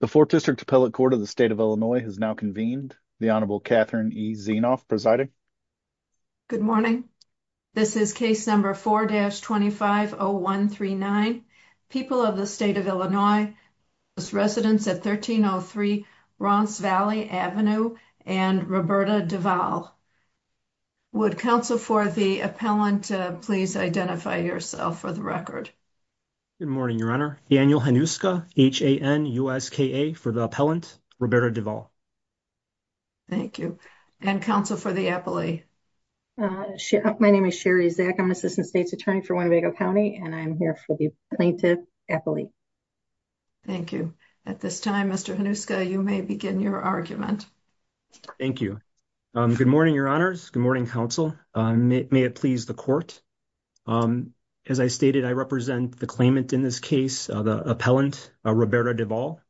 The 4th District Appellate Court of the State of Illinois has now convened. The Honorable Catherine E. Zienoff presiding. Good morning. This is case number 4-250139, People of the State of Illinois, Residence at 1303 Roncevalles Avenue and Roberta Duval. Would counsel for the appellant please identify yourself for the record? Good morning, Your Honor. Daniel Hanuska, H-A-N-U-S-K-A, for the appellant, Roberta Duval. Thank you. And counsel for the appellee? My name is Sherry Zak. I'm an assistant state's attorney for Winnebago County and I'm here for the plaintiff appellee. Thank you. At this time, Mr. Hanuska, you may begin your argument. Thank you. Good morning, Your Honors. Good morning, counsel. May it please the court. As I stated, I represent the claimant in this case, the appellant, Roberta Duval.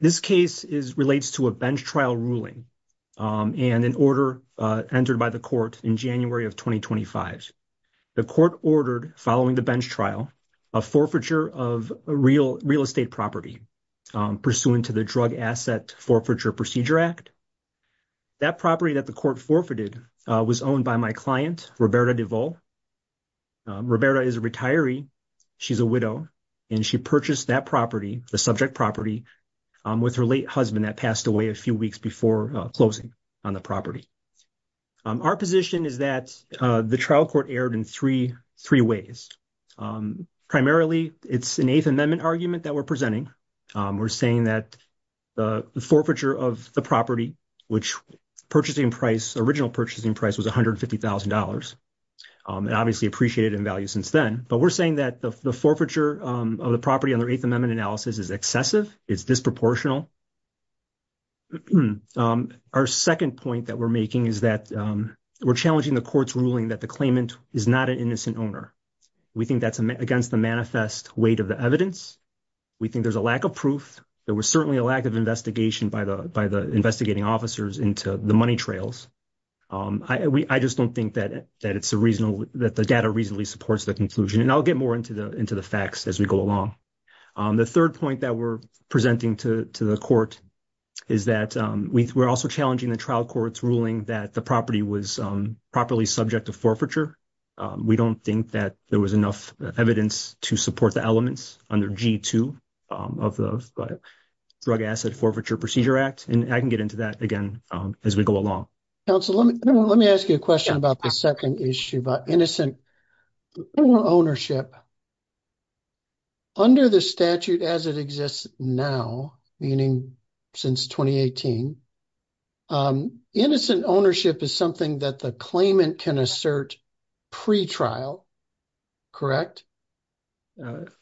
This case relates to a bench trial ruling and an order entered by the court in January of 2025. The court ordered, following the bench trial, a forfeiture of a real estate property pursuant to the Drug Asset Forfeiture Procedure Act. That property that the court forfeited was owned by my client, Roberta Duval. Roberta is a retiree. She's a widow. And she purchased that property, the subject property, with her late husband that passed away a few weeks before closing on the property. Our position is that the trial court erred in three ways. Primarily, it's an Eighth Amendment argument that we're presenting. We're saying that the forfeiture of the property, which purchasing price, original purchasing price was $150,000, and obviously appreciated in value since then. But we're saying that the forfeiture of the property under Eighth Amendment analysis is excessive. It's disproportional. Our second point that we're making is that we're challenging the court's ruling that the claimant is not an innocent owner. We think that's against the manifest weight of the evidence. We think there's a lack of proof. There was certainly a lack of investigation by the investigating officers into the money trails. I just don't think that it's a reasonable, that the data reasonably supports the conclusion. And I'll get more into the facts as we go along. The third point that we're presenting to the court is that we're also challenging the trial court's ruling that the property was properly subject to forfeiture. We don't think that there was enough evidence to support the elements under G2 of the Drug Asset Forfeiture Procedure Act. And I can get into that again as we go along. Counselor, let me ask you a question about the second issue about innocent ownership. Under the statute as it exists now, meaning since 2018, innocent ownership is something that the claimant can assert pre-trial, correct?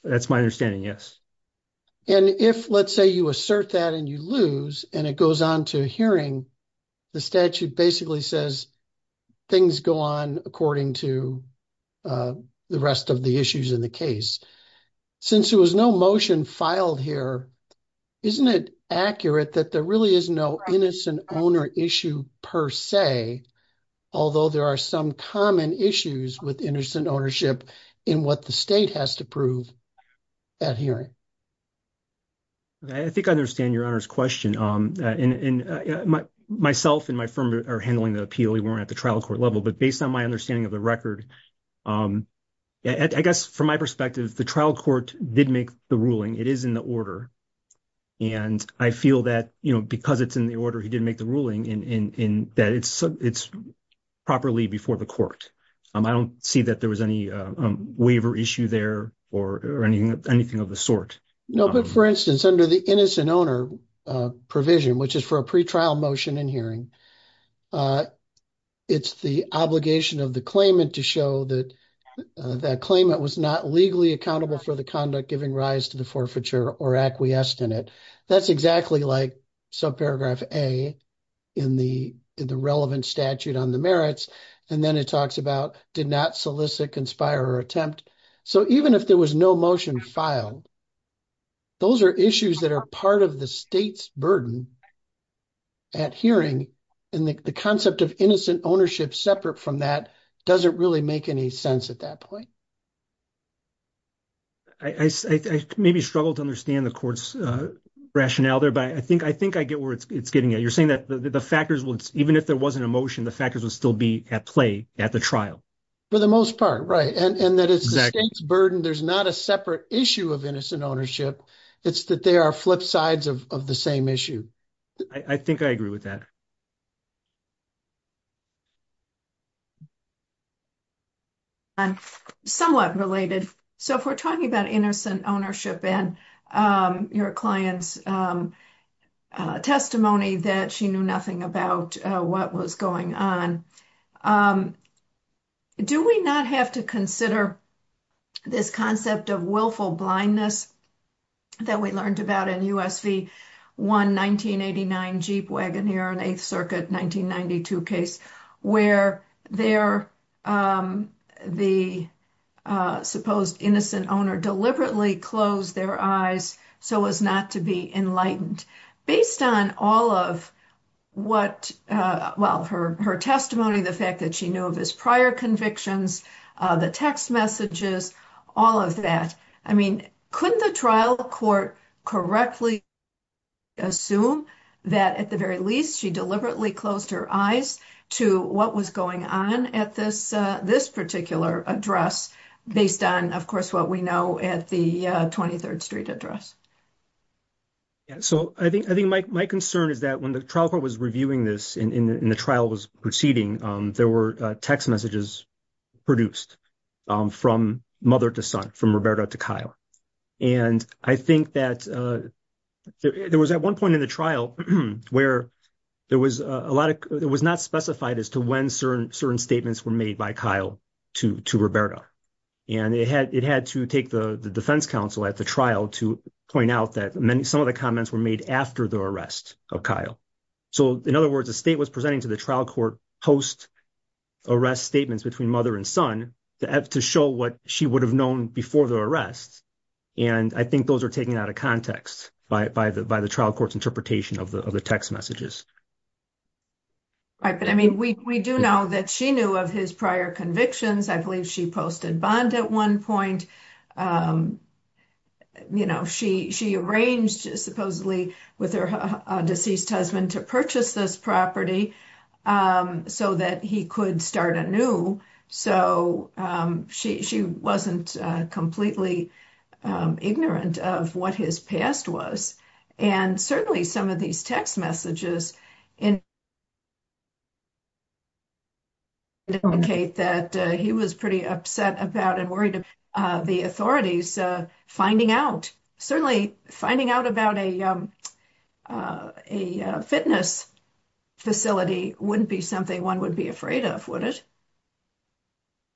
That's my understanding, yes. And if, let's say, you assert that and you lose, and it goes on to hearing, the statute basically says things go on according to the rest of the issues in the case. Since there was no motion filed here, isn't it accurate that there really is no innocent owner issue per se, although there are some common issues with innocent ownership in what the state has to prove at hearing? I think I understand Your Honor's question. Myself and my firm are handling the appeal. We weren't at the trial court level. But based on my understanding of the record, I guess from my perspective, the trial court did make the ruling. It is in the order. And I feel that, you know, because it's in the order he did make the ruling, that it's properly before the court. I don't see that there was any waiver issue there or anything of the sort. No, but for instance, under the innocent owner provision, which is for a pre-trial motion in hearing, it's the obligation of the claimant to show that that claimant was not legally accountable for conduct giving rise to the forfeiture or acquiesced in it. That's exactly like subparagraph A in the relevant statute on the merits. And then it talks about did not solicit, conspire or attempt. So even if there was no motion filed, those are issues that are part of the state's burden at hearing. And the concept of innocent ownership separate from that doesn't really make any sense at that point. I maybe struggle to understand the court's rationale there, but I think I get where it's getting at. You're saying that the factors, even if there wasn't a motion, the factors would still be at play at the trial. For the most part, right. And that it's the state's burden. There's not a separate issue of innocent ownership. It's that they are flip sides of the same issue. I think I agree with that. I'm somewhat related. So if we're talking about innocent ownership and your client's testimony that she knew nothing about what was going on, do we not have to consider this concept of willful blindness that we learned about in US v. 1, 1989, Jeep Wagoneer on 8th Circuit, 1992 case, where the supposed innocent owner deliberately closed their eyes so as not to be enlightened based on all of what, well, her testimony, the fact that she knew of his prior convictions, the text messages, all of that. I mean, couldn't the trial court correctly assume that at the very least she deliberately closed her eyes to what was going on at this particular address based on, of course, what we know at the 23rd Street address? Yeah. So I think my concern is that when the trial court was reviewing this and the trial was proceeding, there were text messages produced from mother to son, from Roberta to Kyle. And I think that there was at one point in the trial where there was a lot of, it was not specified as to when certain statements were made by Kyle to Roberta. And it had to take the defense counsel at the trial to point out that some of the comments were made after the arrest of Kyle. So in other words, the state was presenting to the trial court post-arrest statements between mother and son to show what she would have known before the arrest. And I think those are taken out of context by the trial court's interpretation of the text messages. Right. But I mean, we do know that she knew of his prior convictions. I believe she posted bond at one point. She arranged, supposedly, with her deceased husband to purchase this property so that he could start anew. So she wasn't completely ignorant of what his past was. And certainly some of these text messages indicate that he was pretty upset about and worried about the authorities finding out, certainly finding out about a fitness facility wouldn't be something one would be afraid of, would it?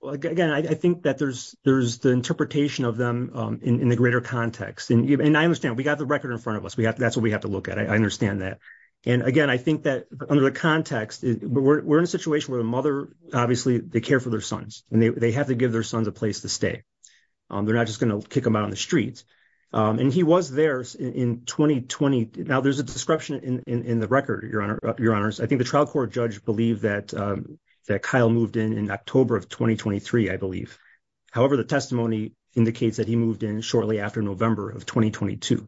Well, again, I think that there's the interpretation of them in the greater context. And I understand, we got the record in front of us. That's what we have to look at. I understand that. And again, I think that under the context, we're in a situation where the mother, obviously, they care for their sons and they have to give their sons a place to stay. They're not just going to kick them out on the streets. And he was there in 2020. Now, there's a description in the record, Your Honor. I think the trial court judge believed that Kyle moved in in October of 2023, I believe. However, the testimony indicates that he moved in shortly after November of 2022.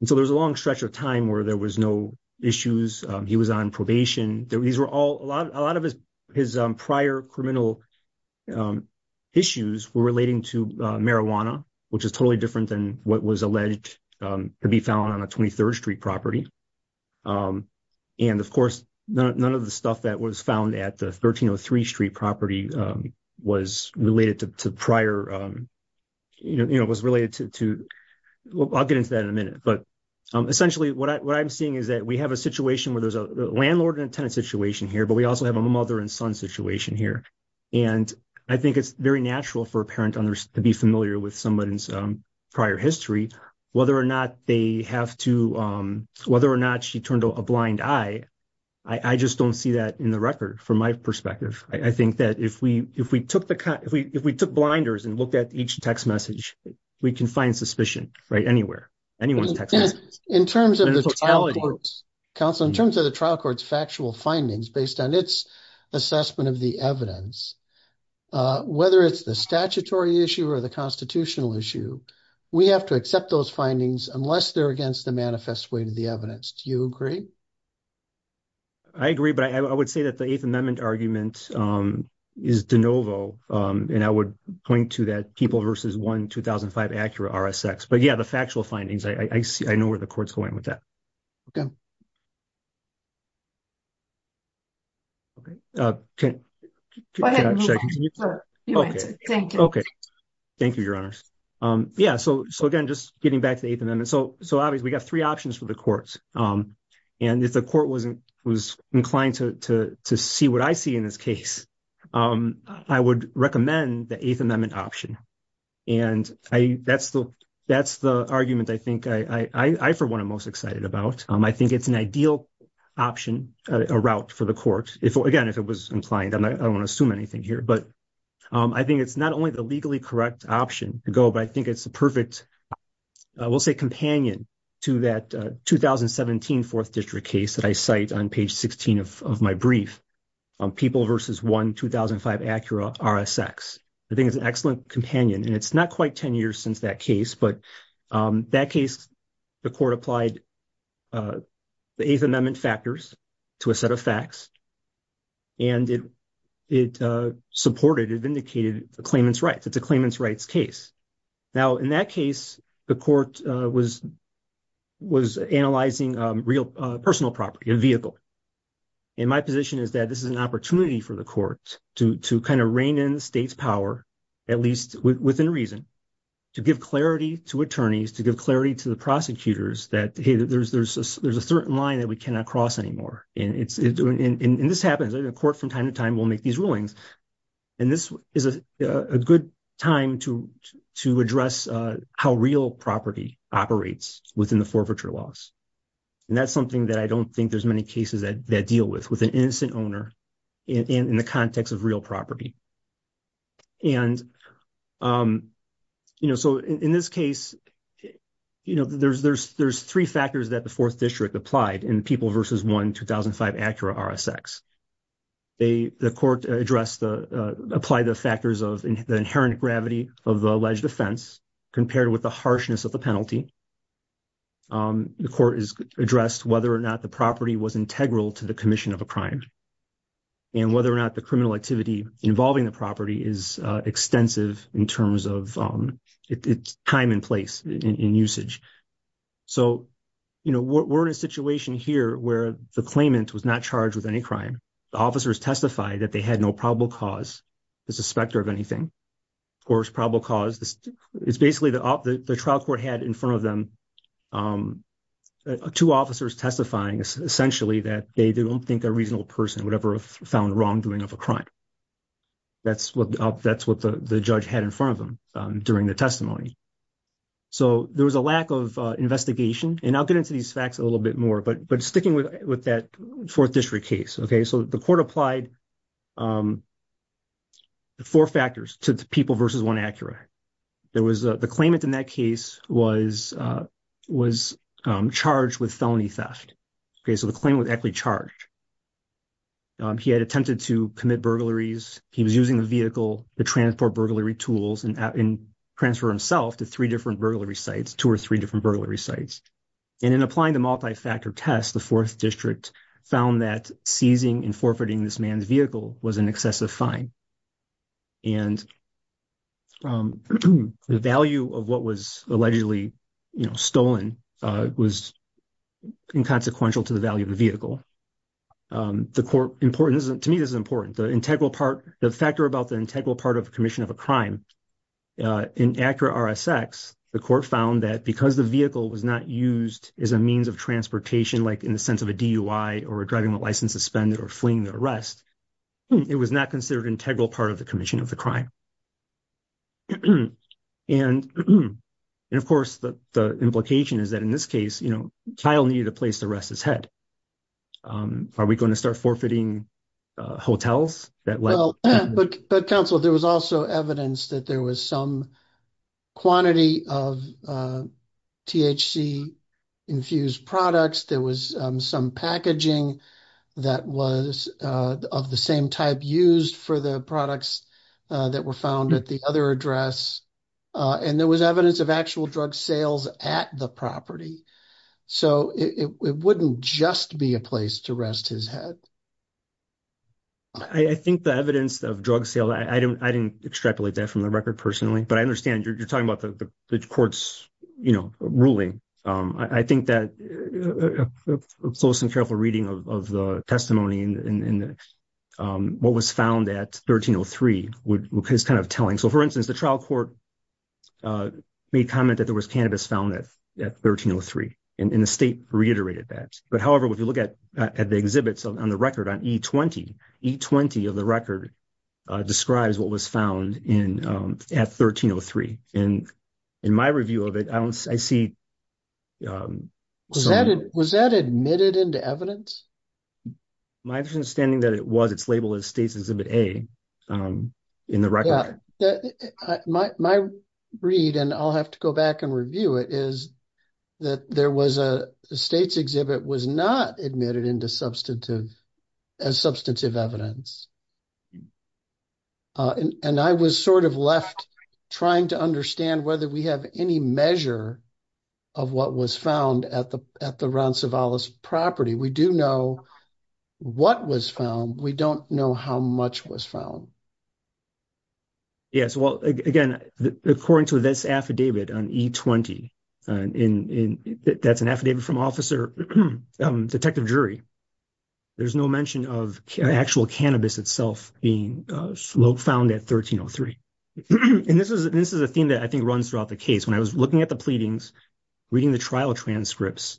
And so there was a long stretch of time where there was no issues. He was on probation. These were relating to marijuana, which is totally different than what was alleged to be found on a 23rd Street property. And of course, none of the stuff that was found at the 1303 Street property was related to prior, you know, was related to, I'll get into that in a minute. But essentially, what I'm seeing is that we have a situation where there's a landlord and a tenant situation here, but we also have a mother and son situation here. And I think it's very natural for a parent to be familiar with someone's prior history, whether or not they have to, whether or not she turned a blind eye. I just don't see that in the record from my perspective. I think that if we took blinders and looked at each text message, we can find suspicion, right? Anywhere, anyone's text message. In terms of the trial court's factual findings based on its assessment of the evidence, whether it's the statutory issue or the constitutional issue, we have to accept those findings unless they're against the manifest way to the evidence. Do you agree? I agree, but I would say that the Eighth Amendment argument is de novo. And I would point to that People v. 1, 2005 Acura RSX. But yeah, the factual findings, I know where the Okay. Thank you. Okay. Thank you, Your Honors. Yeah. So again, just getting back to the Eighth Amendment. So obviously, we got three options for the courts. And if the court wasn't inclined to see what I see in this case, I would recommend the Eighth Amendment option. And that's the argument, I think, I, for one, am most excited about. I think it's an ideal option, a route for the court, if, again, if it was inclined. I don't want to assume anything here. But I think it's not only the legally correct option to go, but I think it's a perfect, I will say, companion to that 2017 Fourth District case that I cite on page 16 of my brief, People v. 1, 2005 Acura RSX. I think it's an excellent companion. And it's not quite 10 years since that case, but that case, the court applied the Eighth Amendment factors to a set of facts. And it supported, it vindicated the claimant's rights. It's a claimant's rights case. Now, in that case, the court was analyzing real personal property, a vehicle. And my position is that this is an opportunity for the court to kind of rein in the state's power, at least within reason, to give clarity to attorneys, to give clarity to the prosecutors that, hey, there's a certain line that we cannot cross anymore. And this happens. The court, from time to time, will make these rulings. And this is a good time to address how real property operates within the forfeiture laws. And that's something that I don't think there's many cases that deal with, an innocent owner in the context of real property. And, you know, so in this case, you know, there's three factors that the Fourth District applied in People v. 1, 2005 Acura RSX. The court addressed the, applied the factors of the inherent gravity of the alleged offense compared with the harshness of the penalty. The court has addressed whether or not the property was integral to the commission of a crime. And whether or not the criminal activity involving the property is extensive in terms of its time and place in usage. So, you know, we're in a situation here where the claimant was not charged with any crime. The officers testified that they had no probable cause, the suspector of anything, or probable cause. It's basically the trial court had in front of them two officers testifying essentially that they don't think a reasonable person would ever have found wrongdoing of a crime. That's what the judge had in front of them during the testimony. So there was a lack of investigation. And I'll get into these facts a little bit more. But sticking with that Fourth District case, okay, so the court applied the four factors to People v. 1 Acura. There was, the claimant in that case was charged with felony theft. Okay, so the claimant was actually charged. He had attempted to commit burglaries. He was using the vehicle to transport burglary tools and transfer himself to three different burglary sites, two or three different burglary sites. And in applying the multi-factor test, the Fourth District found that seizing and forfeiting this man's vehicle was an excessive fine. And the value of what was allegedly, you know, stolen was inconsequential to the value of the vehicle. The court, important, to me this is important, the integral part, the factor about the integral part of commission of a crime. In Acura RSX, the court found that because the vehicle was not used as a means of transportation like in the sense of a DUI or a driving license suspended or fleeing the arrest, it was not considered integral part of the commission of the crime. And of course, the implication is that in this case, you know, Kyle needed a place to rest his head. Are we going to start forfeiting hotels that way? Well, but counsel, there was also evidence that there was some quantity of THC infused products. There was some packaging that was of the same type used for the products that were found at the other address. And there was evidence of actual drug sales at the property. So it wouldn't just be a place to rest his head. I think the evidence of drug sale, I didn't extrapolate that from the record personally, but I understand you're talking about the court's, you know, ruling. I think that a close and careful reading of the testimony and what was found at 1303 is kind of telling. So for instance, the trial court made comment that there was cannabis found at 1303. And the exhibits on the record on E-20, E-20 of the record describes what was found at 1303. And in my review of it, I see... Was that admitted into evidence? My understanding that it was, it's labeled as States Exhibit A in the record. My read, and I'll have to go back and review it, is that there was a States exhibit was not admitted as substantive evidence. And I was sort of left trying to understand whether we have any measure of what was found at the Ron Cevallos property. We do know what was found. We don't know how much was found. Yes. Well, again, according to this affidavit on E-20, and that's an affidavit from officer, detective jury, there's no mention of actual cannabis itself being found at 1303. And this is a theme that I think runs throughout the case. When I was looking at the pleadings, reading the trial transcripts,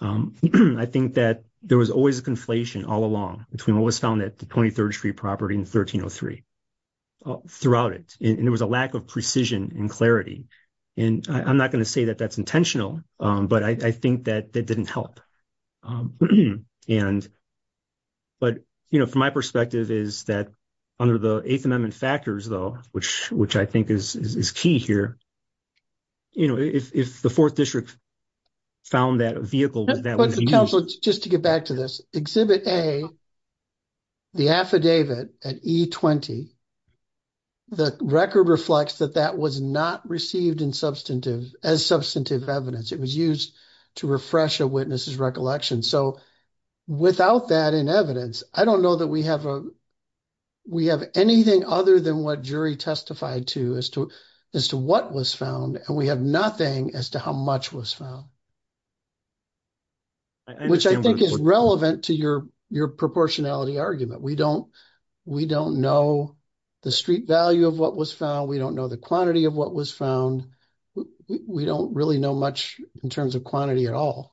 I think that there was always a conflation all along between what was found at the 23rd Street property and 1303. Throughout it, and there was a lack of precision and clarity. And I'm not going to say that that's intentional, but I think that that didn't help. And, but, you know, from my perspective is that under the Eighth Amendment factors, though, which I think is key here, you know, if the Fourth District found that vehicle... Just to get back to this, Exhibit A, the affidavit at E-20, the record reflects that that was not received in substantive, as substantive evidence. It was used to refresh a witness's recollection. So without that in evidence, I don't know that we have a, we have anything other than what jury testified to as to, as to what was found, and we have nothing as to how much was found. Which I think is relevant to your proportionality argument. We don't, we don't know the street value of what was found. We don't know the quantity of what was found. We don't really know much in terms of quantity at all.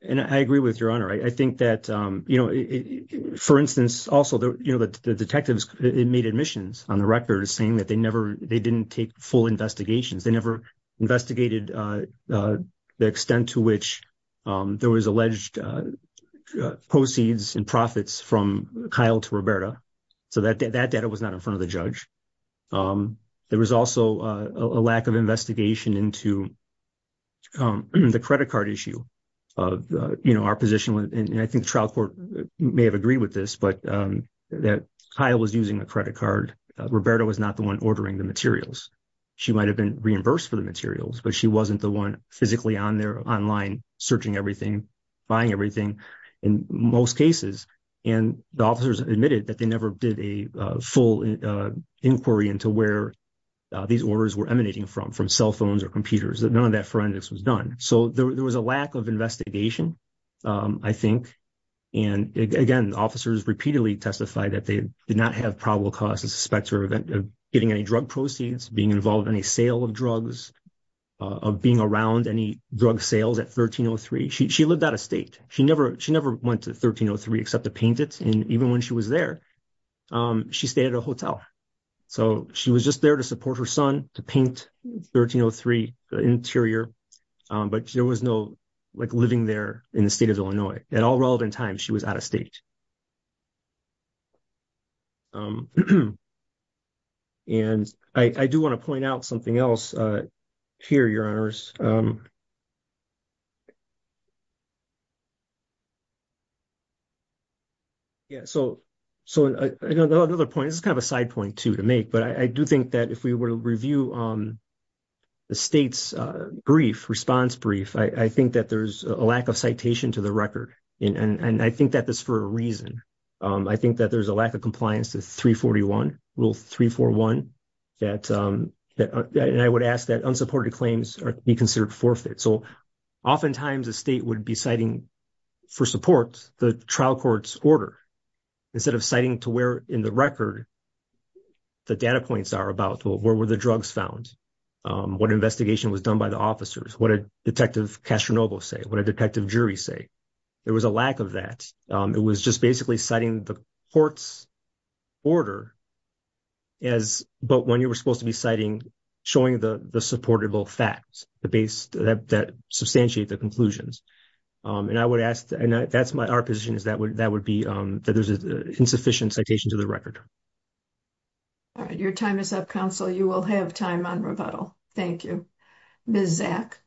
And I agree with your Honor. I think that, you know, for instance, also, you know, the detectives made admissions on the record saying that they never, they didn't take full investigations. They never investigated, you know, the extent to which there was alleged proceeds and profits from Kyle to Roberta. So that data was not in front of the judge. There was also a lack of investigation into the credit card issue of, you know, our position. And I think the trial court may have agreed with this, but that Kyle was using a credit card. Roberta was not the one ordering the materials. She might have been reimbursed for the materials, but she wasn't the one physically on there online searching everything, buying everything in most cases. And the officers admitted that they never did a full inquiry into where these orders were emanating from, from cell phones or computers. None of that forensics was done. So there was a lack of investigation, I think. And again, officers repeatedly testified that they did not have probable cause to suspect her of getting any drug proceeds, being involved in any sale of drugs, of being around any drug sales at 1303. She lived out of state. She never went to 1303 except to paint it. And even when she was there, she stayed at a hotel. So she was just there to support her son, to paint 1303, the interior. But there was no, like, living there in the state of Illinois. At all relevant times, she was out of state. And I do want to point out something else here, Your Honors. Yeah, so another point, this is kind of a side point, too, to make, but I do think that if we were to review the state's brief, response brief, I think that there's a lack of citation to the record. And I think that that's for a reason. I think that there's a lack of compliance to 341, Rule 341, that, and I would ask that unsupported claims be considered forfeit. So oftentimes, a state would be citing, for support, the trial court's order instead of citing to where in the record the data points are about, well, where were the drugs found? What investigation was done by the officers? What did Detective Castronovo say? What did a detective jury say? There was a lack of that. It was just basically citing the court's order as, but when you were supposed to be citing, showing the supportable facts that substantiate the conclusions. And I would ask, and that's my, our position is that would be, that there's an insufficient citation to the record. All right. Your time is up, Counsel. You will have time on rebuttal. Thank you. Ms. Zack.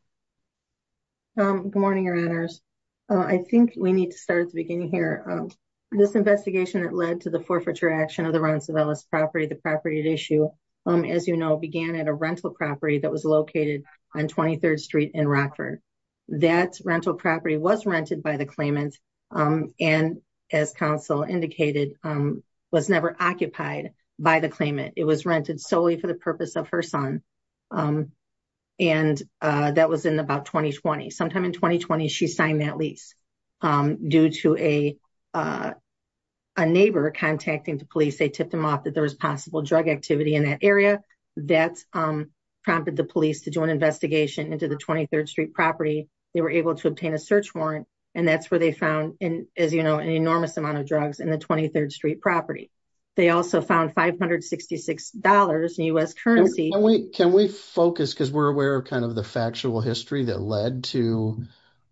Good morning, Your Honors. I think we need to start at the beginning here. This investigation that led to the forfeiture action of the Ron Savellas property, the property at issue, as you know, began at a rental property that was located on 23rd Street in Rockford. That rental property was rented by the claimant. And as Counsel indicated, was never occupied by the claimant. It was rented solely for the purpose of her son. And that was in about 2020. Sometime in 2020, she signed that lease due to a neighbor contacting the police. They tipped them off that there was possible drug activity in that area. That prompted the police to do an investigation into the 23rd Street property. They were able to obtain a search warrant. And that's where they found, as you know, an enormous amount of drugs in the 23rd Street property. They also found $566 in U.S. currency. Can we focus, because we're aware of kind of the factual history that led to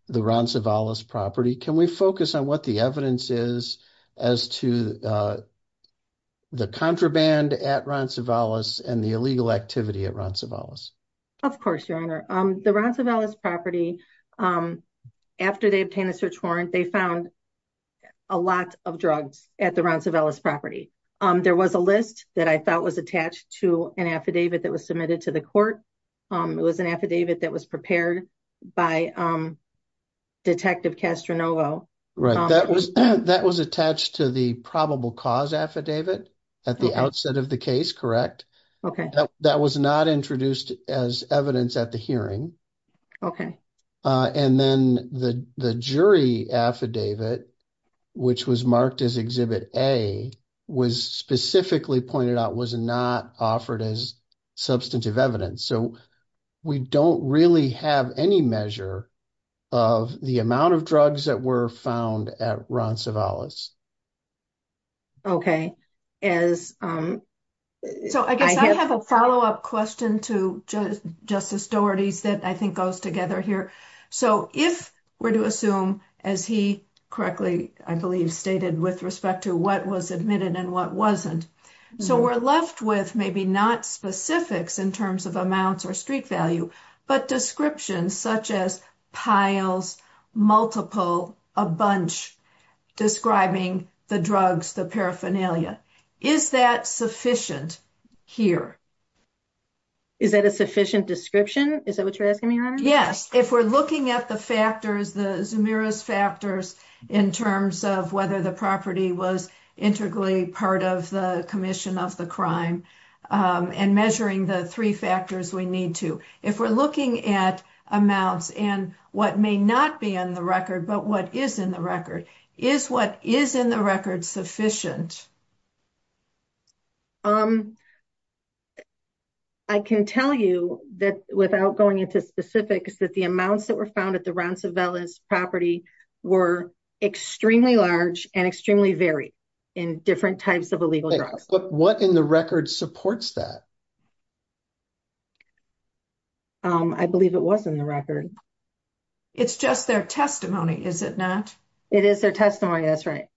the Ron Savellas property, can we focus on what the evidence is as to the contraband at Ron Savellas and the illegal activity at Ron Savellas? Of course, Your Honor. The Ron Savellas property, after they obtained a search warrant, they found a lot of drugs at the Ron Savellas property. There was a list that I thought was attached to an affidavit that was submitted to the court. It was an affidavit that was prepared by Detective Castronovo. Right. That was attached to the probable cause affidavit at the outset of the case, correct? Okay. That was not introduced as evidence at the hearing. Okay. And then the jury affidavit, which was marked as Exhibit A, was specifically pointed out was not offered as substantive evidence. So we don't really have any measure of the amount of drugs that were found at Ron Savellas. Okay. So I guess I have a follow-up question to Justice Doherty's that I think goes together here. So if we're to assume, as he correctly, I believe, stated with respect to what was admitted and what wasn't. So we're left with maybe not specifics in terms of amounts or street value, but descriptions such as piles, multiple, a bunch describing the drugs, the paraphernalia. Is that sufficient here? Is that a sufficient description? Is that what you're asking me, Your Honor? Yes. If we're looking at the factors, the Zemiris factors in terms of whether the property was integrally part of the commission of the crime and measuring the three factors we need to. If we're looking at amounts and what may not be on the record, but what is in the record, is what is in the record sufficient? I can tell you that without going into specifics, that the amounts that were found at the Ron Savellas property were extremely large and extremely varied in different types of illegal drugs. But what in the record supports that? I believe it was in the record. It's just their testimony, is it not? It is their testimony. That's right.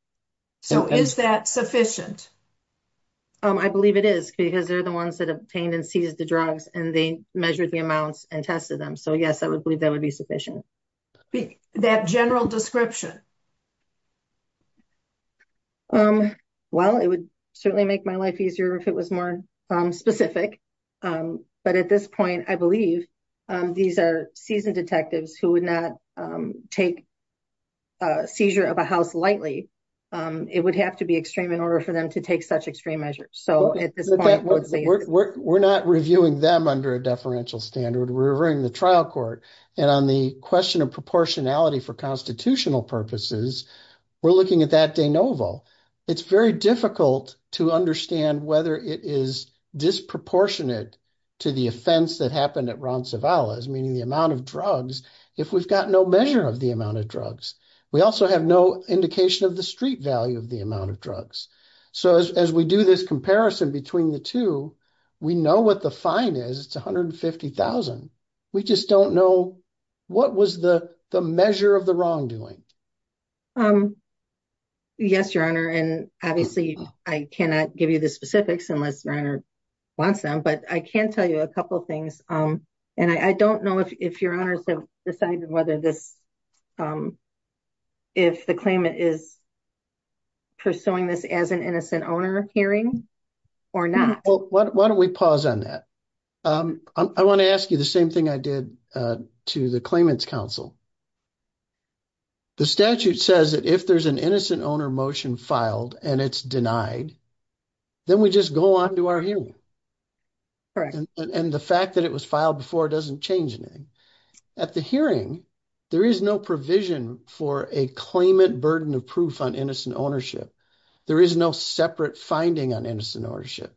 So is that sufficient? I believe it is because they're the ones that obtained and seized the drugs and they measured the amounts and tested them. So yes, I would believe that would be sufficient. That general description? Well, it would certainly make my life easier if it was more specific. But at this point, I believe these are seasoned detectives who would not take a seizure of a house lightly. It would have to be extreme in order for them to take such extreme measures. We're not reviewing them under a deferential standard. We're reviewing the trial court. And on the question of proportionality for constitutional purposes, we're looking at that It's very difficult to understand whether it is disproportionate to the offense that happened at Ron Savellas, meaning the amount of drugs, if we've got no measure of the amount of drugs. We also have no indication of the street value of the amount of drugs. So as we do this comparison between the two, we know what the fine is. It's $150,000. We just don't know what was the measure of the wrongdoing. Yes, Your Honor. And obviously, I cannot give you the specifics unless your honor wants them. But I can tell you a couple of things. And I don't know if your honors have decided whether this if the claimant is pursuing this as an innocent owner hearing or not. Well, why don't we pause on that? I want to ask you the same thing I did to the claimant's counsel. The statute says that if there's an innocent owner motion filed and it's denied, then we just go on to our hearing. And the fact that it was filed before doesn't change anything. At the hearing, there is no provision for a claimant burden of proof on innocent ownership. There is no separate finding on innocent ownership.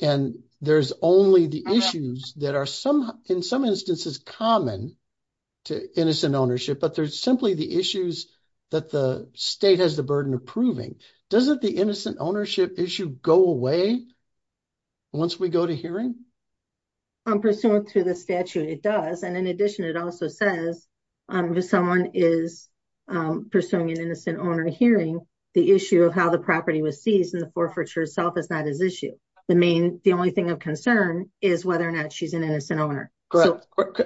And there's only the issues that are in some instances common to innocent ownership. But there's simply the issues that the state has the burden of proving. Doesn't the innocent ownership issue go away once we go to hearing? Pursuant to the statute, it does. And in addition, it also says if someone is pursuing an innocent owner hearing, the issue of how the property was seized and the whether or not she's an innocent owner.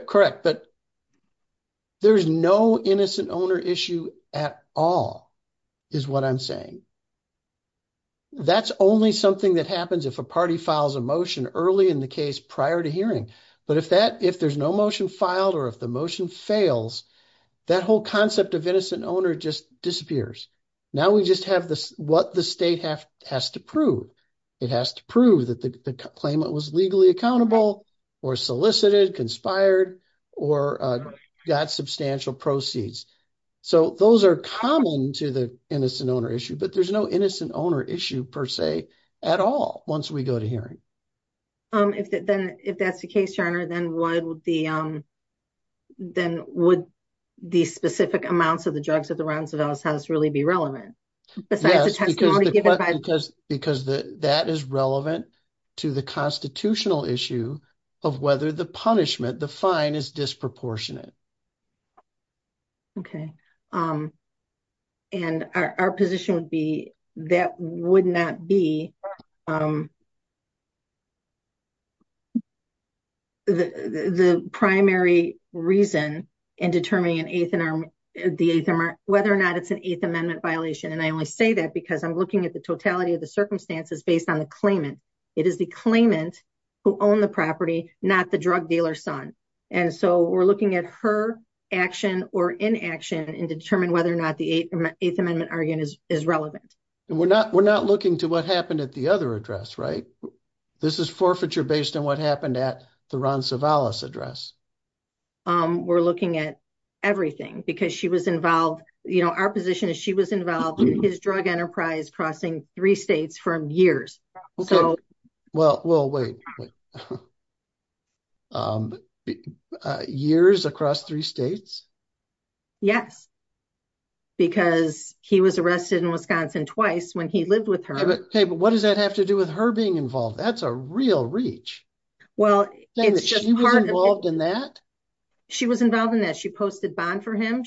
Correct. But there's no innocent owner issue at all, is what I'm saying. That's only something that happens if a party files a motion early in the case prior to hearing. But if there's no motion filed or if the motion fails, that whole concept of innocent owner just disappears. Now we just have what the state has to prove. It has to prove that the claimant was legally accountable or solicited, conspired, or got substantial proceeds. So those are common to the innocent owner issue. But there's no innocent owner issue per se at all once we go to hearing. If that's the case, Your Honor, then would the specific to the constitutional issue of whether the punishment, the fine, is disproportionate? Okay. And our position would be that would not be the primary reason in determining an eighth in our the eighth, whether or not it's an eighth amendment violation. And I only say that because I'm looking at the totality of the circumstances based on the claimant. It is the claimant who owned the property, not the drug dealer's son. And so we're looking at her action or inaction and determine whether or not the eighth amendment argument is relevant. And we're not looking to what happened at the other address, right? This is forfeiture based on what happened at the Ron Savalas address. We're looking at everything because she was involved, you know, our position is she was involved in his drug enterprise crossing three states from years. Okay. Well, well, wait. Years across three states? Yes. Because he was arrested in Wisconsin twice when he lived with her. Okay. But what does that have to do with her being involved? That's a real reach. Well, she was involved in that. She was involved in that. She posted bond for him.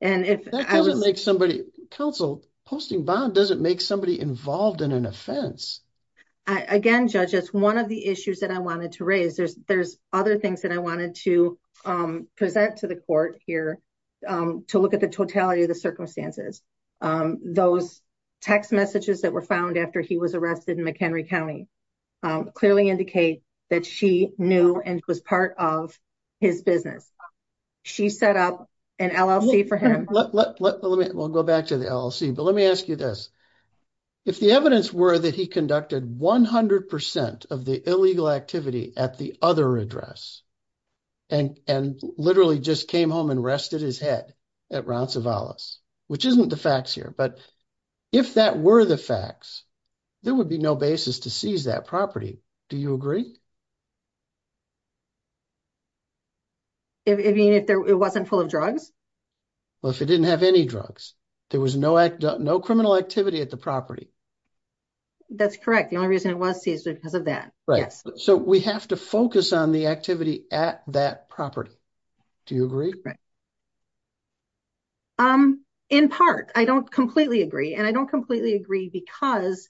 That doesn't make somebody counsel. Posting bond doesn't make somebody involved in an offense. Again, judges, one of the issues that I wanted to raise, there's other things that I wanted to present to the court here to look at the totality of the circumstances. Those text messages that were found after he was arrested in McHenry County clearly indicate that she knew and was part of his business. She set up an LLC for him. We'll go back to the LLC, but let me ask you this. If the evidence were that he conducted 100% of the illegal activity at the other address and literally just came home and rested his head at Ron Savalas, which isn't the facts here, but if that were the facts, there would be no basis to seize that property. Do you agree? Even if it wasn't full of drugs? Well, if it didn't have any drugs, there was no criminal activity at the property. That's correct. The only reason it was seized was because of that. Right. So we have to focus on the activity at that property. Do you agree? Right. In part, I don't completely agree. And I don't completely agree because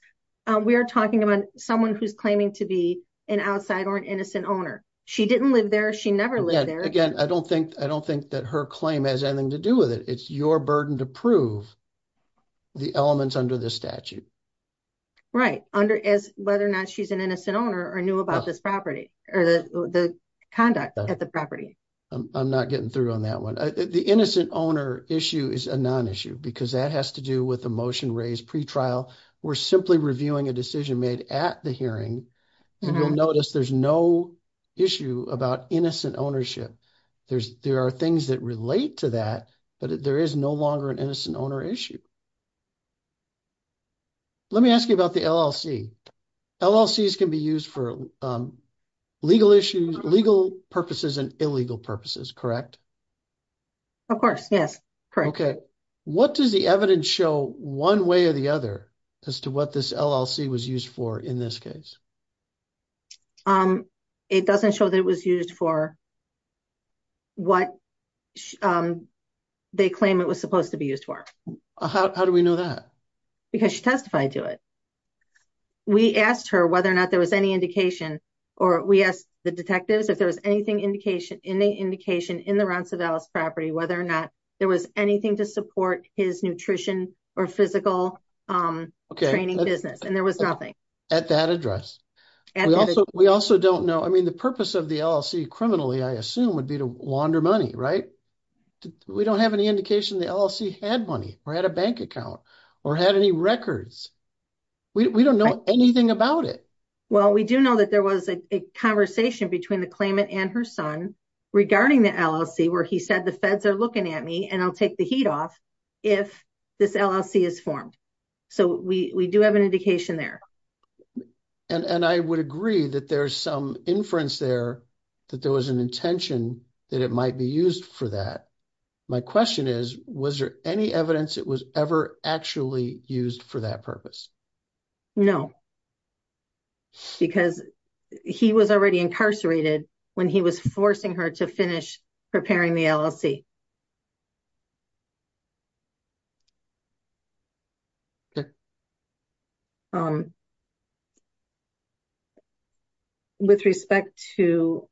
we are talking about someone who's claiming to be an outside or an innocent owner. She didn't live there. She never lived there. Again, I don't think that her claim has anything to do with it. It's your burden to prove the elements under the statute. Right. Whether or not she's an innocent owner or knew about this property or the conduct at the property. I'm not getting through on that one. The innocent owner issue is a non-issue because that has to do with the motion raised pretrial. We're simply reviewing a decision made at the hearing, and you'll notice there's no issue about innocent ownership. There are things that relate to that, but there is no longer an innocent owner issue. Let me ask you about the LLC. LLCs can be used for legal purposes and illegal purposes, correct? Of course. Yes. Correct. What does the evidence show one way or the other as to what this LLC was used for in this case? It doesn't show that it was used for what they claim it was supposed to be used for. How do we know that? Because she testified to it. We asked her whether or not there was any indication or we asked the detectives if there was any indication in the rents of Ellis property whether or not there was anything to support his nutrition or physical training business, and there was nothing. At that address. We also don't know. I mean, the purpose of the LLC criminally, I assume, would be to launder money, right? We don't have any indication the LLC had money or had a bank account or had any records. We don't know anything about it. Well, we do know that there was a conversation between the claimant and her son regarding the LLC where he said, the feds are looking at me and I'll take the heat off if this LLC is formed. So we do have an indication there. And I would agree that there's some inference there that there was an intention that it might be used for that. My question is, was there any evidence it was ever actually used for that purpose? No, because he was already incarcerated when he was forcing her to finish preparing the LLC. With respect to.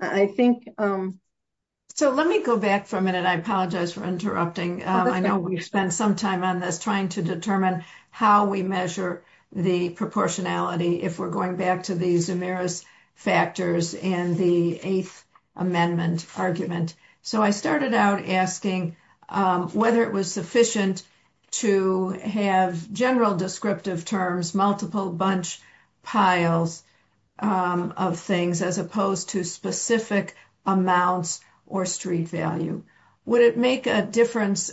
I think so, let me go back for a minute. I apologize for interrupting. I know we've spent some time on this trying to determine how we measure the proportionality. If we're going back to these Amiris factors and the 8th amendment argument. So I started out asking whether it was sufficient to have general descriptive terms for the LLC. And then I asked, would it make a difference if we were to use general descriptive terms, multiple bunch piles of things as opposed to specific amounts or street value? Would it make a difference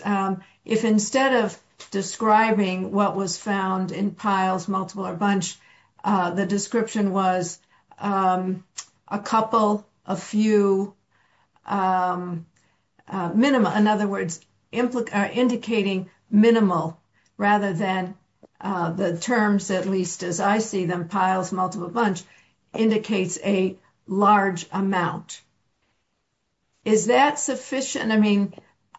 if instead of describing what was found in piles, multiple or bunch, the description was a couple, a few, um, uh, minimum. In other words, indicating minimal rather than the terms, at least as I see them piles, multiple bunch indicates a large amount. Is that sufficient? I mean,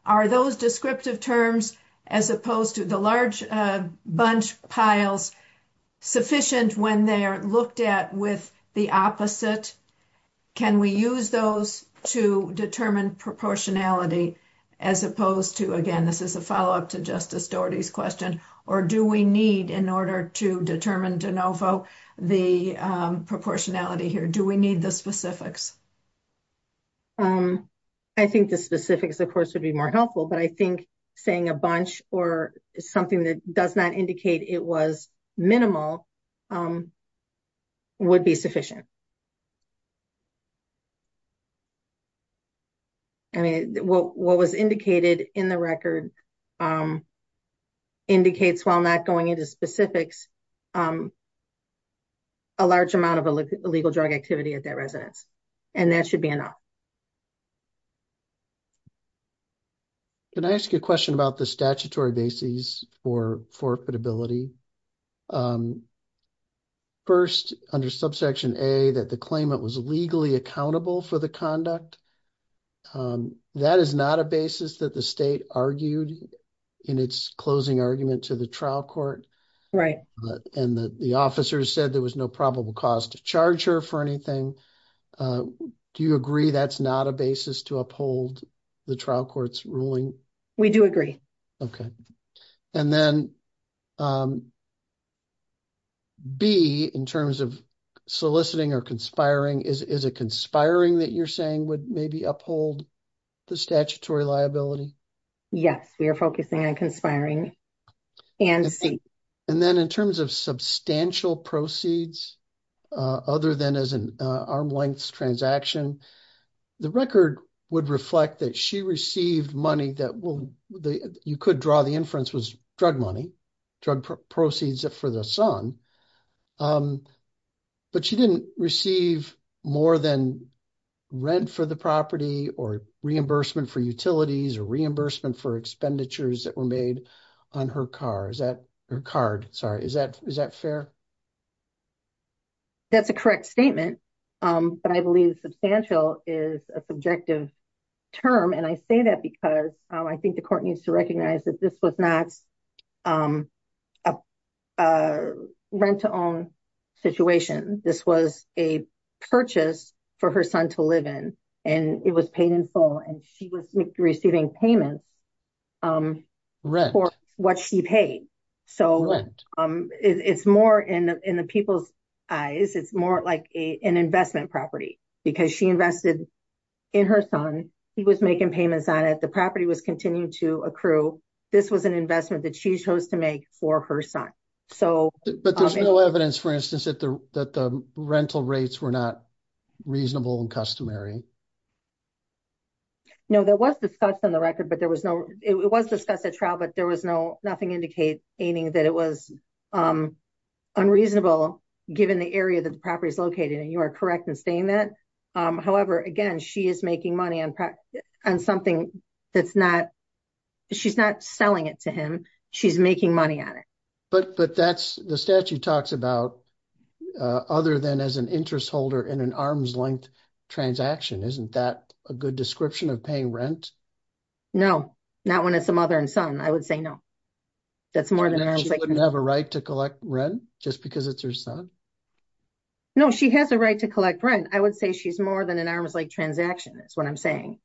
are those descriptive terms as opposed to the large bunch piles? Sufficient when they are looked at with the opposite. Can we use those to determine proportionality as opposed to again, this is a follow up to justice stories question, or do we need in order to determine the proportionality here? Do we need the specifics? I think the specifics, of course, would be more helpful, but I think saying a bunch or something that does not indicate it was minimal. Would be sufficient. I mean, what was indicated in the record. Indicates while not going into specifics. Um, a large amount of illegal drug activity at that residence. And that should be enough. Can I ask you a question about the statutory basis for forfeit ability? 1st, under subsection a, that the claimant was legally accountable for the conduct. That is not a basis that the state argued. In its closing argument to the trial court, right? And the officers said there was no probable cause to charge her for anything. Do you agree? That's not a basis to uphold. The trial court's ruling we do agree. Okay. And then B, in terms of soliciting or conspiring is a conspiring that you're saying would maybe uphold. The statutory liability yes, we are focusing on conspiring. And see, and then in terms of substantial proceeds. Other than as an arm lengths transaction. The record would reflect that she received money that will, you could draw the inference was drug money. Drug proceeds for the son, but she didn't receive more than. Rent for the property or reimbursement for utilities or reimbursement for expenditures that were made on her car. Is that her card? Sorry? Is that is that fair? That's a correct statement, but I believe substantial is a subjective. Term, and I say that because I think the court needs to recognize that this was not. Rent to own. Situation this was a purchase. For her son to live in, and it was painful and she was receiving payments. For what she paid. So, it's more in the people's. Eyes, it's more like an investment property because she invested. In her son, he was making payments on it. The property was continuing to accrue. This was an investment that she chose to make for her son. So, but there's no evidence, for instance, that the rental rates were not. Reasonable and customary, no, there was discussed on the record, but there was no, it was discussed at trial, but there was no, nothing indicate anything that it was. Unreasonable given the area that the property is located and you are correct and staying that. Um, however, again, she is making money on practice and something. That's not she's not selling it to him. She's making money on it, but but that's the statue talks about. Other than as an interest holder in an arms length. Transaction isn't that a good description of paying rent? No, not when it's a mother and son, I would say no. That's more than I have a right to collect rent just because it's your son. No, she has a right to collect rent. I would say she's more than an arms like transaction. That's what I'm saying.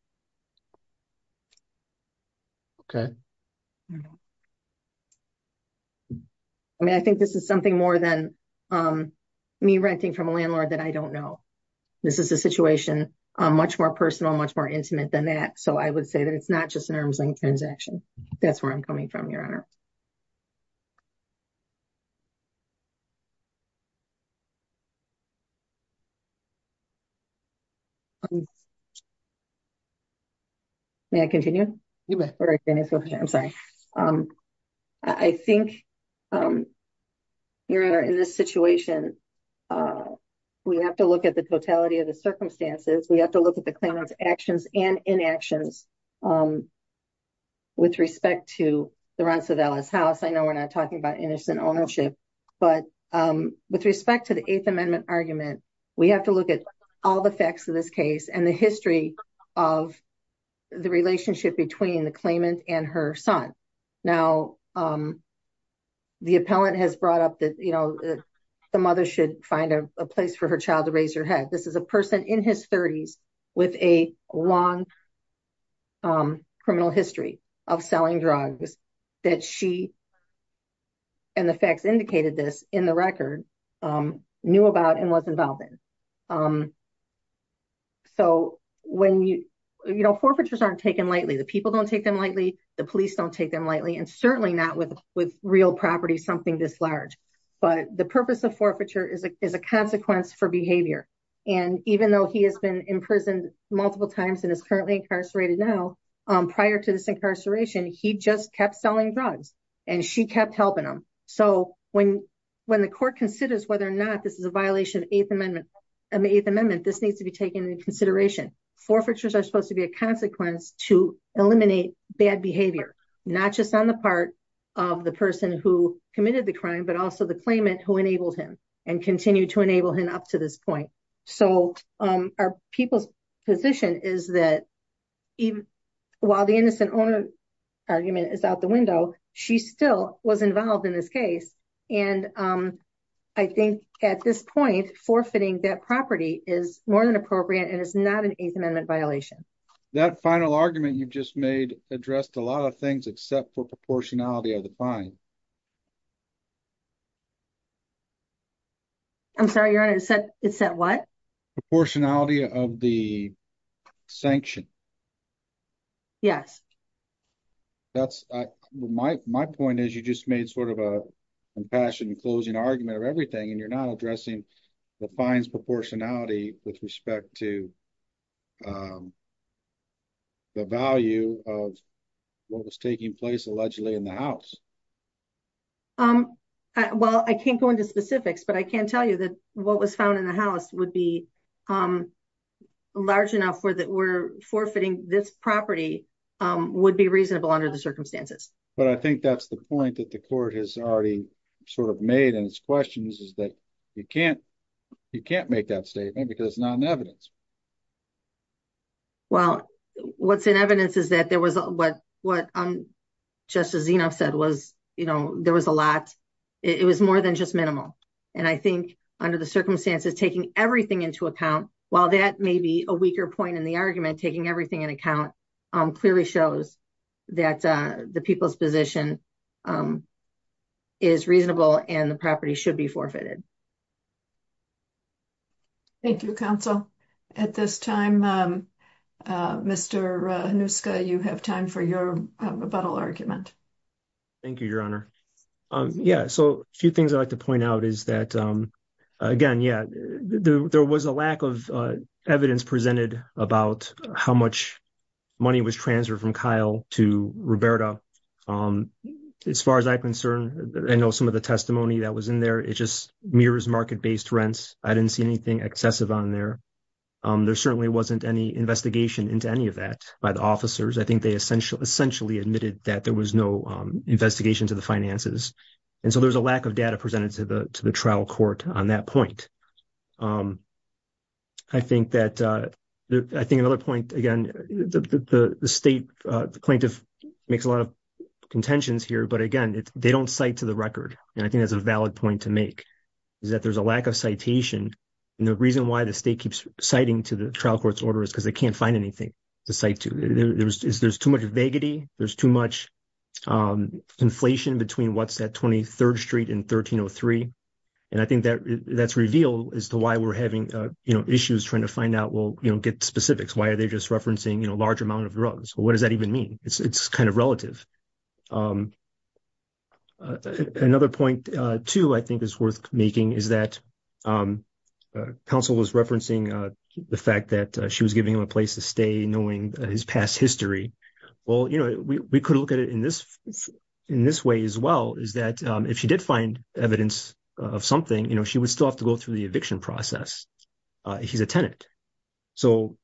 Okay. I mean, I think this is something more than. Um, me renting from a landlord that I don't know. This is a situation much more personal, much more intimate than that. So I would say that it's not just an arm's length transaction. That's where I'm coming from your honor. Silence. May I continue? I'm sorry. I think you're in this situation. We have to look at the totality of the circumstances. We have to look at the actions and inactions. With respect to the rents of Ellis house, I know we're not talking about innocent ownership. But with respect to the 8th amendment argument, we have to look at all the facts of this case and the history of. The relationship between the claimant and her son. Now, the appellant has brought up that, you know, the mother should find a place for her child to raise your head. This is a person in his 30s. With a long criminal history of selling drugs. That she, and the facts indicated this in the record. Um, knew about and was involved in, um. So, when you know, forfeitures aren't taken lightly, the people don't take them lightly. The police don't take them lightly and certainly not with with real property, something this large. But the purpose of forfeiture is a consequence for behavior. And even though he has been in prison multiple times, and is currently incarcerated now. Um, prior to this incarceration, he just kept selling drugs. And she kept helping him. So, when. When the court considers whether or not this is a violation of 8th amendment. And the 8th amendment, this needs to be taken into consideration forfeitures are supposed to be a consequence to eliminate bad behavior, not just on the part. Of the person who committed the crime, but also the claimant who enabled him and continue to enable him up to this point. So, our people's position is that. While the innocent owner argument is out the window, she still was involved in this case. And, um, I think at this point, forfeiting that property is more than appropriate and it's not an 8th amendment violation that final argument. You've just made addressed a lot of things except for proportionality of the fine. I'm sorry you're on it. It's that what proportionality of the. Sanction yes. That's my, my point is, you just made sort of a. Compassion and closing argument or everything, and you're not addressing the fines proportionality with respect to. The value of. What was taking place allegedly in the house. Um, well, I can't go into specifics, but I can tell you that what was found in the house would be. Um, large enough for that we're forfeiting this property. Um, would be reasonable under the circumstances, but I think that's the point that the court has already sort of made and it's questions is that. You can't you can't make that statement because it's not an evidence. Well, what's in evidence is that there was what what. Just as enough said was, you know, there was a lot. It was more than just minimal and I think under the circumstances, taking everything into account while that may be a weaker point in the argument, taking everything in account. Um, clearly shows that the people's position. Is reasonable and the property should be forfeited. Thank you counsel at this time. Mr. you have time for your argument. Thank you, your honor. Yeah. So a few things I'd like to point out is that, um. Again, yeah, there was a lack of evidence presented about how much. Money was transferred from Kyle to Roberta. Um, as far as I'm concerned, I know some of the testimony that was in there. It just mirrors market based rents. I didn't see anything excessive on there. There certainly wasn't any investigation into any of that by the officers. I think they essentially admitted that there was no investigation to the finances. And so there's a lack of data presented to the trial court on that point. I think that. I think another point again, the state plaintiff makes a lot of contentions here, but again, they don't cite to the record. And I think that's a valid point to make. Is that there's a lack of citation and the reason why the state keeps citing to the trial court's order is because they can't find anything. Decide to there's there's too much vaguety. There's too much. Inflation between what's that 23rd street in 1303. And I think that that's reveal as to why we're having issues trying to find out, we'll get specifics. Why are they just referencing a large amount of drugs? What does that even mean? It's kind of relative. Another point, too, I think is worth making is that. Counsel was referencing the fact that she was giving him a place to stay knowing his past history. Well, we could look at it in this. In this way as well, is that if she did find evidence of something, she would still have to go through the eviction process. He's a tenant, so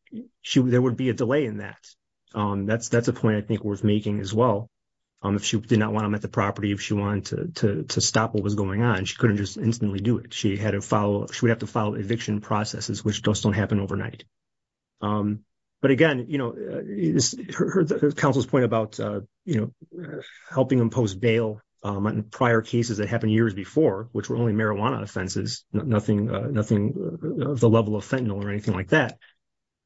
there would be a delay in that. Um, that's that's a point I think worth making as well. Um, if she did not want him at the property, if she wanted to stop what was going on, she couldn't just instantly do it. She had to follow. She would have to follow eviction processes, which just don't happen overnight. But again, you know, counsel's point about, you know, helping impose bail prior cases that happened years before, which were only marijuana offenses. Nothing nothing of the level of fentanyl or anything like that.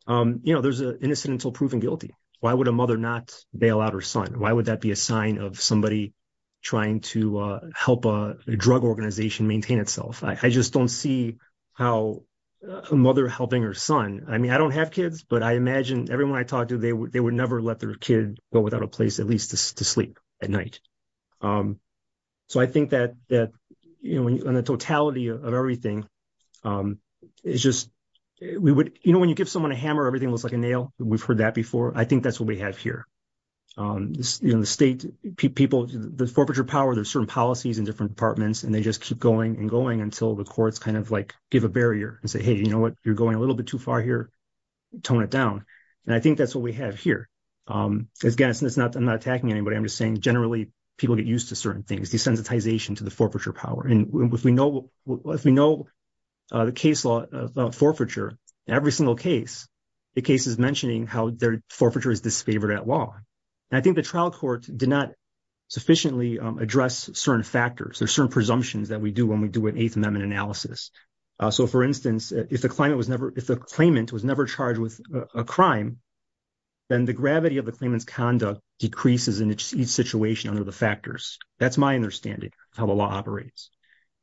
You know, there's an incidental proven guilty. Why would a mother not bail out her son? Why would that be a sign of somebody? Trying to help a drug organization maintain itself. I just don't see how. A mother helping her son, I mean, I don't have kids, but I imagine everyone I talked to, they would never let their kid go without a place at least to sleep at night. So, I think that that, you know, in the totality of everything. It's just we would, you know, when you give someone a hammer, everything looks like a nail. We've heard that before. I think that's what we have here. You know, the state people, the forfeiture power, there's certain policies in different departments and they just keep going and going until the courts kind of like give a barrier and say, hey, you know what, you're going a little bit too far here. Tone it down. And I think that's what we have here. Again, I'm not attacking anybody. I'm just saying generally people get used to certain things, desensitization to the forfeiture power. And if we know the case law forfeiture, every single case, the case is mentioning how their forfeiture is disfavored at law. And I think the trial court did not sufficiently address certain factors or certain presumptions that we do when we do an Eighth Amendment analysis. So, for instance, if the claimant was never charged with a crime, then the gravity of the claimant's conduct decreases in each situation under the factors. That's my understanding of how the law operates.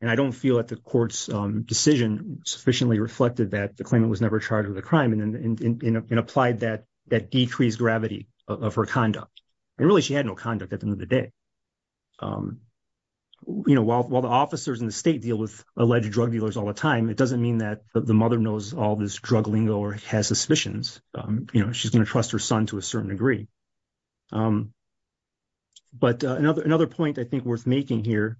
And I don't feel that the court's decision sufficiently reflected that the claimant was never charged with a crime and applied that decreased gravity of her conduct. And really she had no conduct at the end of the day. You know, while the officers in the state deal with alleged drug dealers all the time, it doesn't mean that the mother knows all this drug lingo or has suspicions. You know, she's going to trust her son to a certain degree. But another point I think worth making here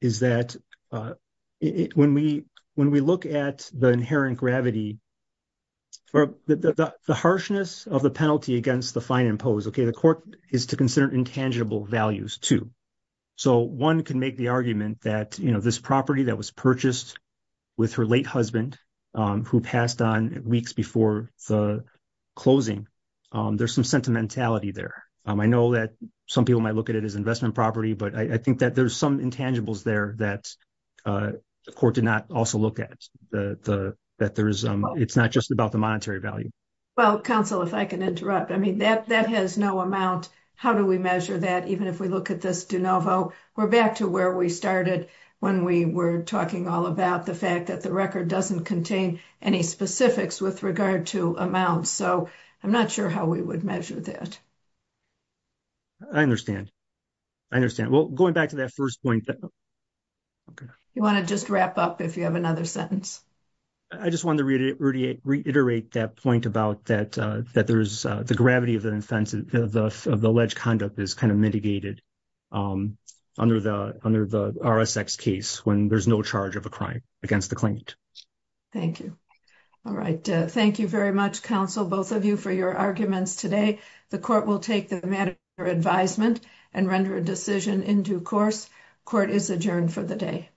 is that when we look at the inherent gravity, the harshness of the penalty against the fine imposed, okay, the court is to consider intangible values too. So, one can make the argument that, you know, this property that was purchased with her late husband, who passed on weeks before the closing, there's some sentimentality there. I know that some people might look at it as investment property, but I think that there's some intangibles there that the court did not also look at, that it's not just about the monetary value. Well, counsel, if I can interrupt, I mean, that has no amount. How do we measure that? Even if we look at this de novo, we're back to where we started when we were talking all about the fact that the record doesn't contain any specifics with regard to amount. So, I'm not sure how we would measure that. I understand. I understand. Well, going back to that 1st point. You want to just wrap up if you have another sentence. I just wanted to reiterate that point about that, that there's the gravity of the offense of the alleged conduct is kind of mitigated under the RSX case when there's no charge of a crime against the claimant. Thank you. All right. Thank you very much, counsel, both of you for your arguments today. The court will take the matter for advisement and render a decision in due course. Court is adjourned for the day.